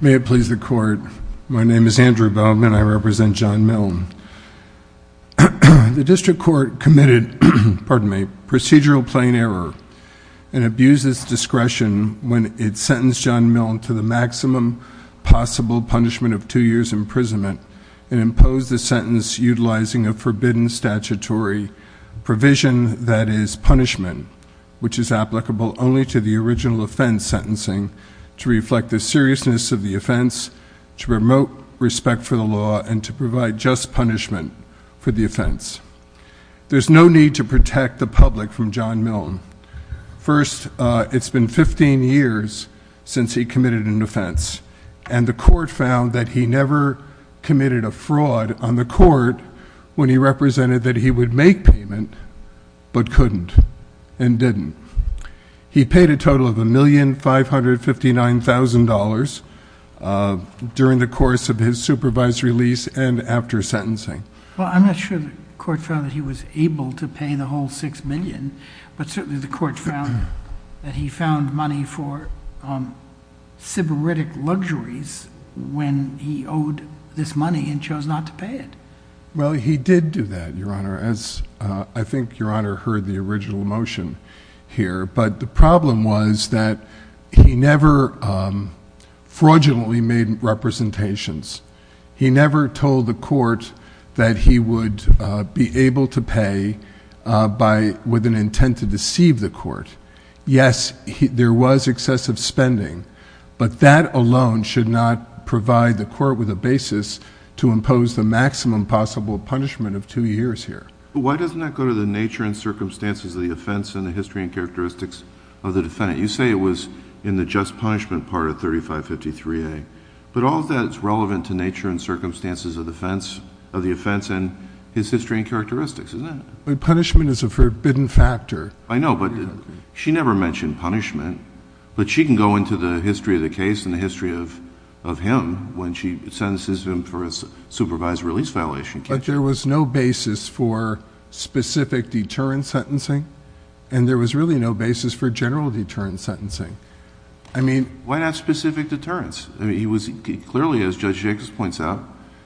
May it please the court, my name is Andrew Bowman and I represent John Milne. The District Court committed procedural plain error and abused its discretion when it sentenced John Milne to the maximum possible punishment of two years imprisonment and imposed the sentence utilizing a forbidden statutory provision that is punishment, which is applicable only to the original offense sentencing, to reflect the seriousness of the offense, to promote respect for the law and to provide just punishment for the offense. There's no need to protect the public from John Milne. First, it's been 15 years since he committed an offense and the court found that he never committed a fraud on the court when he represented that he would make payment but couldn't and didn't. He paid a total of $1,559,000 during the course of his supervisory lease and after sentencing. Well, I'm not sure the court found that he was able to pay the whole $6,000,000 but certainly the court found that he found money for sybaritic luxuries when he owed this money and chose not to pay it. Well, he did do that, Your Honor, as I think Your Honor heard the original motion here, but the problem was that he never fraudulently made representations. He never told the court that he would be able to pay with an intent to deceive the court. Yes, there was excessive spending, but that alone should not provide the court with a basis to impose the maximum possible punishment of two years here. Why doesn't that go to the nature and circumstances of the offense and the history and characteristics of the defendant? You say it was in the just punishment part of 3553A, but all of that is relevant to nature and circumstances of the offense and his history and characteristics, isn't it? Punishment is a forbidden factor. I know, but she never mentioned punishment, but she can go into the history of the case and the history of him when she sentences him for a supervisory lease violation. But there was no basis for specific deterrent sentencing and there was really no basis for general Why not specific deterrence? He was clearly, as Judge Jacobs points out,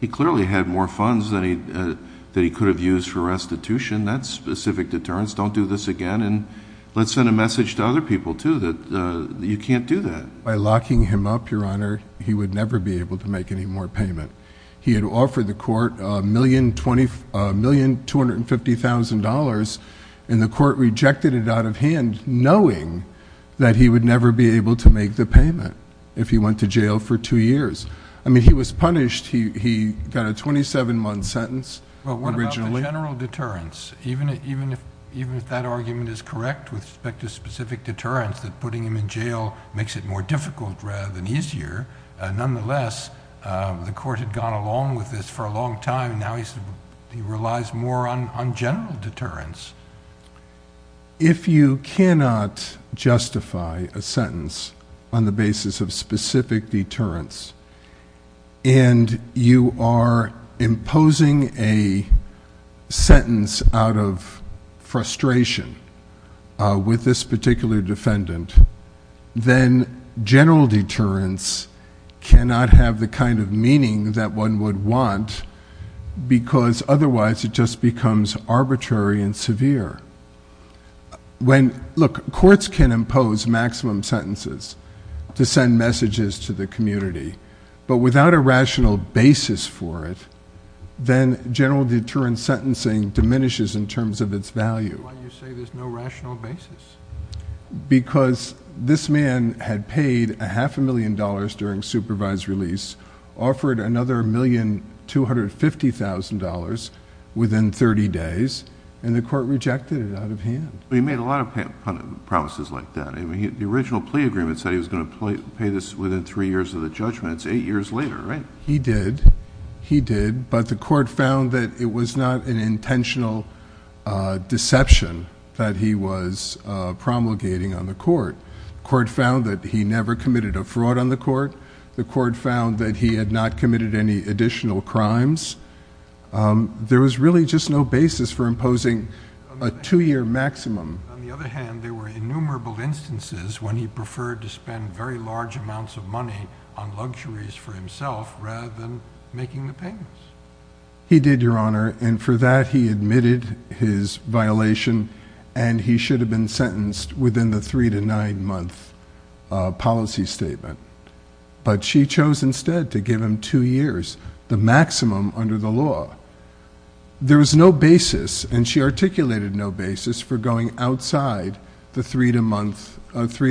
he clearly had more funds than he could have used for restitution. That's specific deterrence. Don't do this again and let's send a message to other people too that you can't do that. By locking him up, Your Honor, he would never be able to make any more payment. He had offered the court $1,250,000 and the court rejected it out of hand knowing that he would never be given that if he went to jail for two years. I mean, he was punished. He got a 27-month sentence originally. Well, what about the general deterrence? Even if that argument is correct with respect to specific deterrence, that putting him in jail makes it more difficult rather than easier, nonetheless, the court had gone along with this for a long time and now he relies more on general deterrence. If you cannot justify a sentence on the basis of specific deterrence and you are imposing a sentence out of frustration with this particular defendant, then general deterrence cannot have the kind of meaning that one would want because otherwise it just becomes arbitrary and severe. Look, courts can impose maximum sentences to send messages to the community, but without a rational basis for it, then general deterrence sentencing diminishes in terms of its value. Why do you say there's no rational basis? Because this man had paid a half a million dollars during supervised release, offered another $1,250,000 within 30 days, and the court rejected it out of promises like that. The original plea agreement said he was going to pay this within three years of the judgment. It's eight years later, right? He did. He did, but the court found that it was not an intentional deception that he was promulgating on the court. The court found that he never committed a fraud on the court. The court found that he had not committed any additional crimes. There was really just no basis for imposing a two-year maximum. On the other hand, there were innumerable instances when he preferred to spend very large amounts of money on luxuries for himself rather than making the payments. He did, Your Honor, and for that he admitted his violation, and he should have been sentenced within the three- to nine-month policy statement, but she chose instead to give him two years, the outside, the three-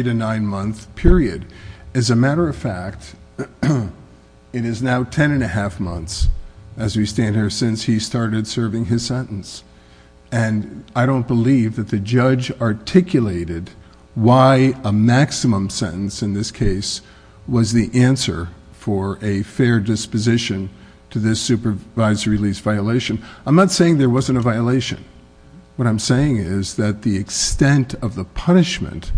to nine-month period. As a matter of fact, it is now ten and a half months as we stand here since he started serving his sentence, and I don't believe that the judge articulated why a maximum sentence in this case was the answer for a fair disposition to this supervisory release violation. I'm not saying there wasn't a violation. What I'm saying is that the extent of the punishment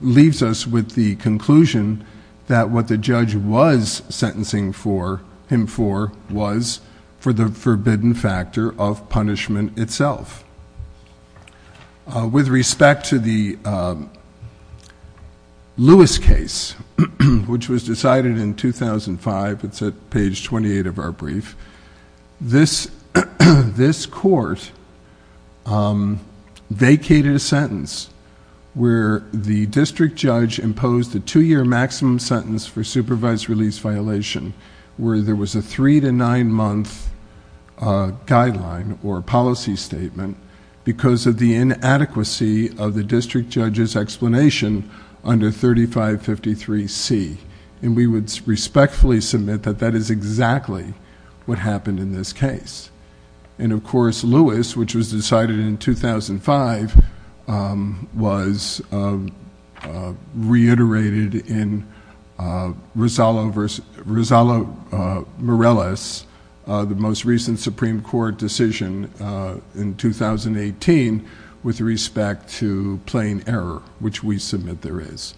leaves us with the conclusion that what the judge was sentencing him for was for the forbidden factor of punishment itself. With respect to the Lewis case, which was decided in 2005, it's at page 28 of our brief, this court, vacated a sentence where the district judge imposed a two-year maximum sentence for supervised release violation where there was a three- to nine-month guideline or policy statement because of the inadequacy of the district judge's explanation under 3553C, and we would respectfully submit that that is exactly what happened in this case. Of course, Lewis, which was decided in 2005, was reiterated in Rosallo-Morales, the most recent Supreme Court decision in 2018 with respect to plain error, which we submit there is.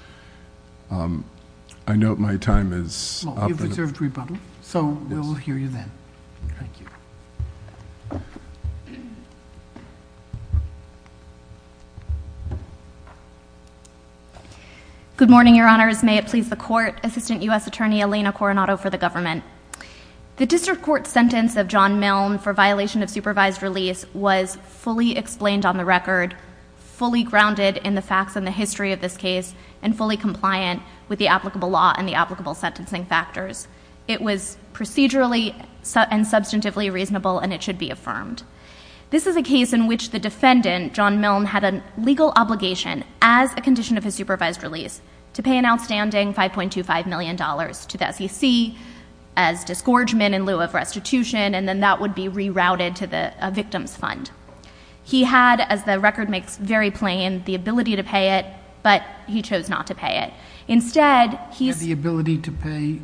I note my time is up. You've observed rebuttal, so we'll hear you then. Good morning, Your Honors. May it please the Court, Assistant U.S. Attorney Elena Coronado for the government. The district court sentence of John Milne for violation of supervised release was fully explained on the record, fully grounded in the facts and the history of this case, and fully compliant with the applicable law and the applicable sentencing factors. It was procedurally and substantively reasonable, and it should be affirmed. This is a case in which the defendant, John Milne, had a legal obligation as a condition of his supervised release to pay an outstanding $5.25 million to the SEC as disgorgement in lieu of restitution, and then that would be rerouted to the victim's fund. He had, as the record makes very plain, the ability to pay it, but he chose not to pay it. Instead, he's— Had the ability to pay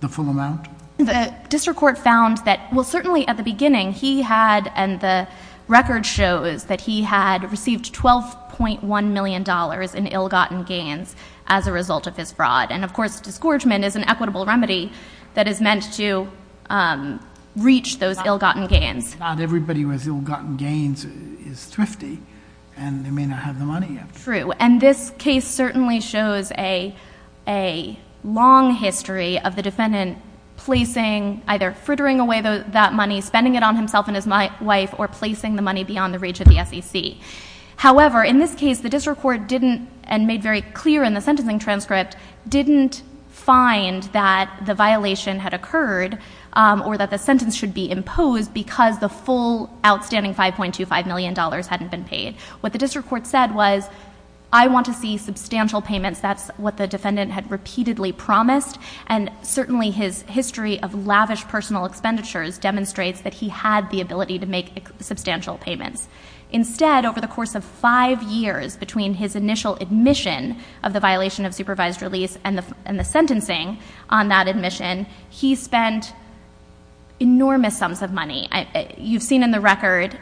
the full amount? The district court found that, well, certainly at the beginning, he had, and the record shows that he had received $12.1 million in ill-gotten gains as a result of his fraud. And, of course, disgorgement is an equitable remedy that is meant to reach those ill-gotten gains. Not everybody who has ill-gotten gains is thrifty, and they may not have the money yet. True. And this case certainly shows a long history of the defendant placing, either frittering away that money, spending it on himself and his wife, or placing the money beyond the reach of the SEC. However, in this case, the district court didn't, and made very clear in the sentencing transcript, didn't find that the violation had occurred, or that the full, outstanding $5.25 million hadn't been paid. What the district court said was, I want to see substantial payments. That's what the defendant had repeatedly promised, and certainly his history of lavish personal expenditures demonstrates that he had the ability to make substantial payments. Instead, over the course of five years, between his initial admission of the violation of supervised release and the sentencing on that admission, he spent enormous sums of money. You've seen in the record,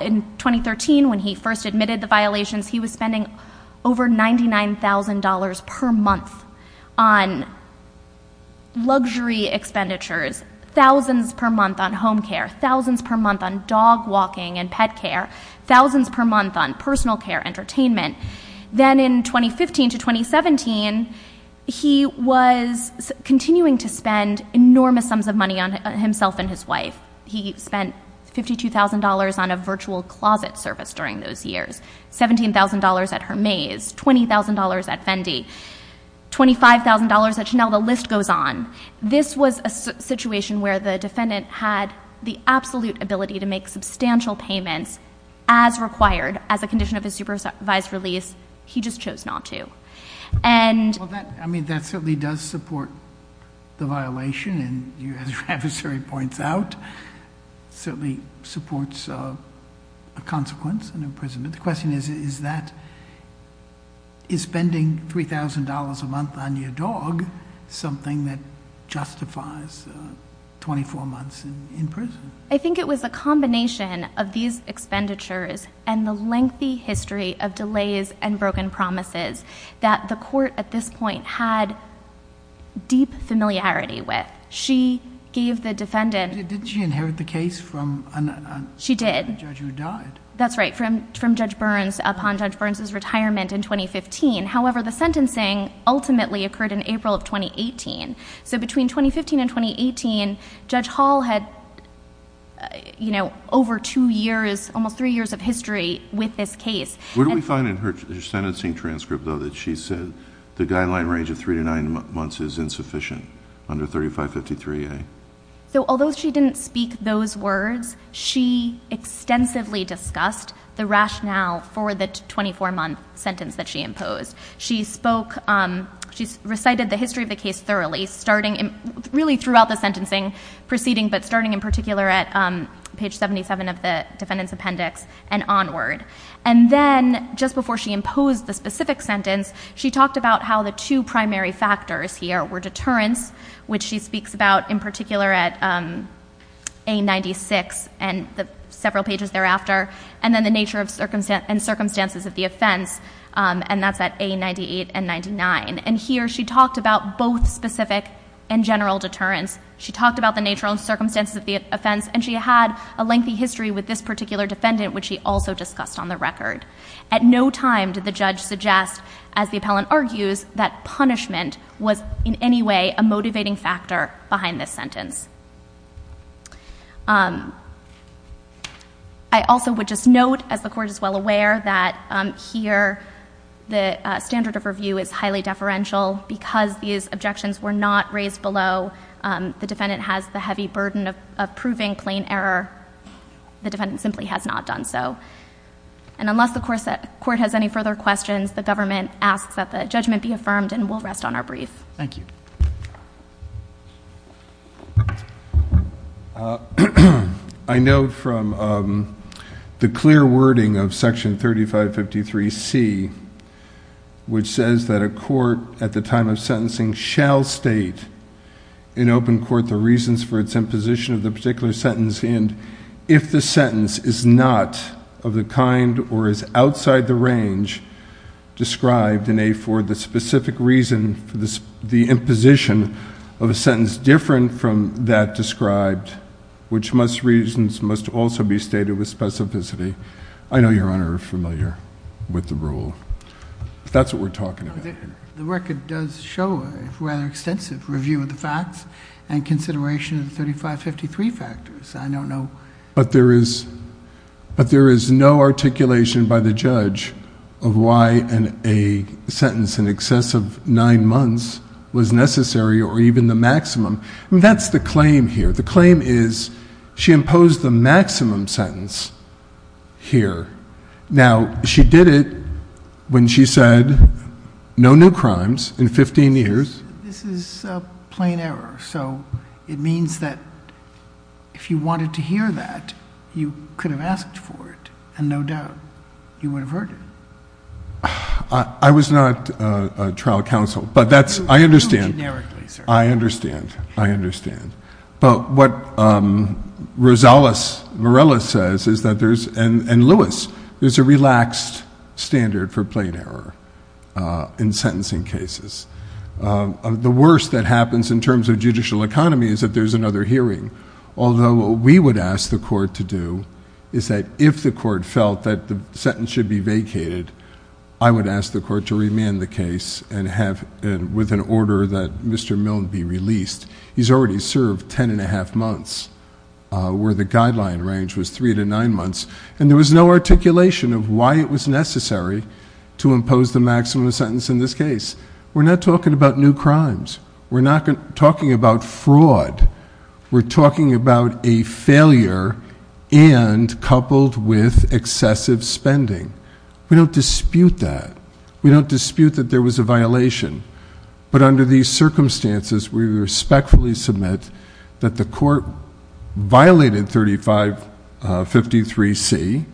in 2013, when he first admitted the violations, he was spending over $99,000 per month on luxury expenditures, thousands per month on home care, thousands per month on dog walking and pet care, thousands per month on personal care, entertainment. Then in 2015 to 2017, he was continuing to spend enormous sums of money on himself and his wife. He spent $52,000 on a virtual closet service during those years, $17,000 at Hermes, $20,000 at Fendi, $25,000 at Chanel, the list goes on. This was a situation where the defendant had the absolute ability to make substantial payments as required, as a condition of his supervised release. He just chose not to. That certainly does support the violation, and as your adversary points out, certainly supports a consequence in imprisonment. The question is, is spending $3,000 a month on your dog something that justifies 24 months in prison? I think it was a combination of these expenditures and the lengthy history of delays and broken promises that the court at this point had deep familiarity with. She gave the defendant... Did she inherit the case from a judge who died? She did. That's right, from Judge Burns upon Judge Burns' retirement in 2015. However, the sentencing ultimately occurred in April of 2018. Between 2015 and 2018, Judge Hall had over two years, almost three years of history with this case. Where do we find in her sentencing transcript, though, that she said the guideline range of three to nine months is insufficient under 3553A? Although she didn't speak those words, she extensively discussed the rationale for the 24-month sentence that she imposed. She recited the history of the case thoroughly, really throughout the sentencing proceeding, but starting in particular at page 77 of the defendant's record. Just before she imposed the specific sentence, she talked about how the two primary factors here were deterrence, which she speaks about in particular at A96 and several pages thereafter, and then the nature and circumstances of the offense, and that's at A98 and A99. Here, she talked about both specific and general deterrence. She talked about the nature and circumstances of the offense, and she had a lengthy history with this particular defendant, which she also discussed on the record. At no time did the judge suggest, as the appellant argues, that punishment was in any way a motivating factor behind this sentence. I also would just note, as the Court is well aware, that here the standard of review is highly deferential. Because these objections were not raised below, the defendant has the right to remain silent. Unless the Court has any further questions, the government asks that the judgment be affirmed, and we'll rest on our brief. I know from the clear wording of Section 3553C, which says that a court at the time of sentencing shall state in open court the reasons for its imposition of the particular sentence, and if the sentence is not of the kind or is outside the range described for the specific reason for the imposition of a sentence different from that described, which reasons must also be stated with specificity. I know, Your Honor, you're familiar with the rule. That's what we're talking about here. The record does show a rather extensive review of the facts and consideration of the 3553 factors. I don't know... But there is no articulation by the judge of why a sentence in excess of nine months was necessary or even the maximum. That's the claim here. The claim is she imposed the maximum sentence here. Now, she did it when she said no new crimes in 15 years. This is a plain error, so it means that if you wanted to hear that, you could have asked for it, and no doubt you would have heard it. I was not a trial counsel, but that's... It's true generically, sir. I understand. I understand. But what Rosales-Morales says is that there's... and Lewis, there's a relaxed standard for plain error in sentencing cases. The worst that happens in terms of judicial economy is that there's another hearing, although what we would ask the court to do is that if the court felt that the sentence should be vacated, I would ask the court to remand the case and have... and with an order that Mr. Milne be released. He's already served ten and a half months, where the guideline range was three to nine months, and there was no articulation of why it was necessary to impose the maximum sentence in this case. We're not talking about new crimes. We're not talking about fraud. We're talking about a failure and coupled with excessive spending. We don't dispute that. We don't dispute that there was a violation, but under these circumstances, we respectfully submit that the court violated 3553C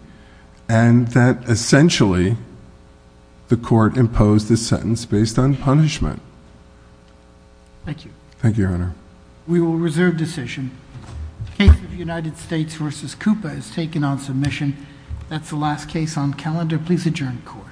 and that essentially the court imposed the sentence based on punishment. Thank you. Thank you, Your Honor. We will reserve decision. The case of United States v. Coupa is taken on submission. That's the last case on calendar. Please adjourn the court.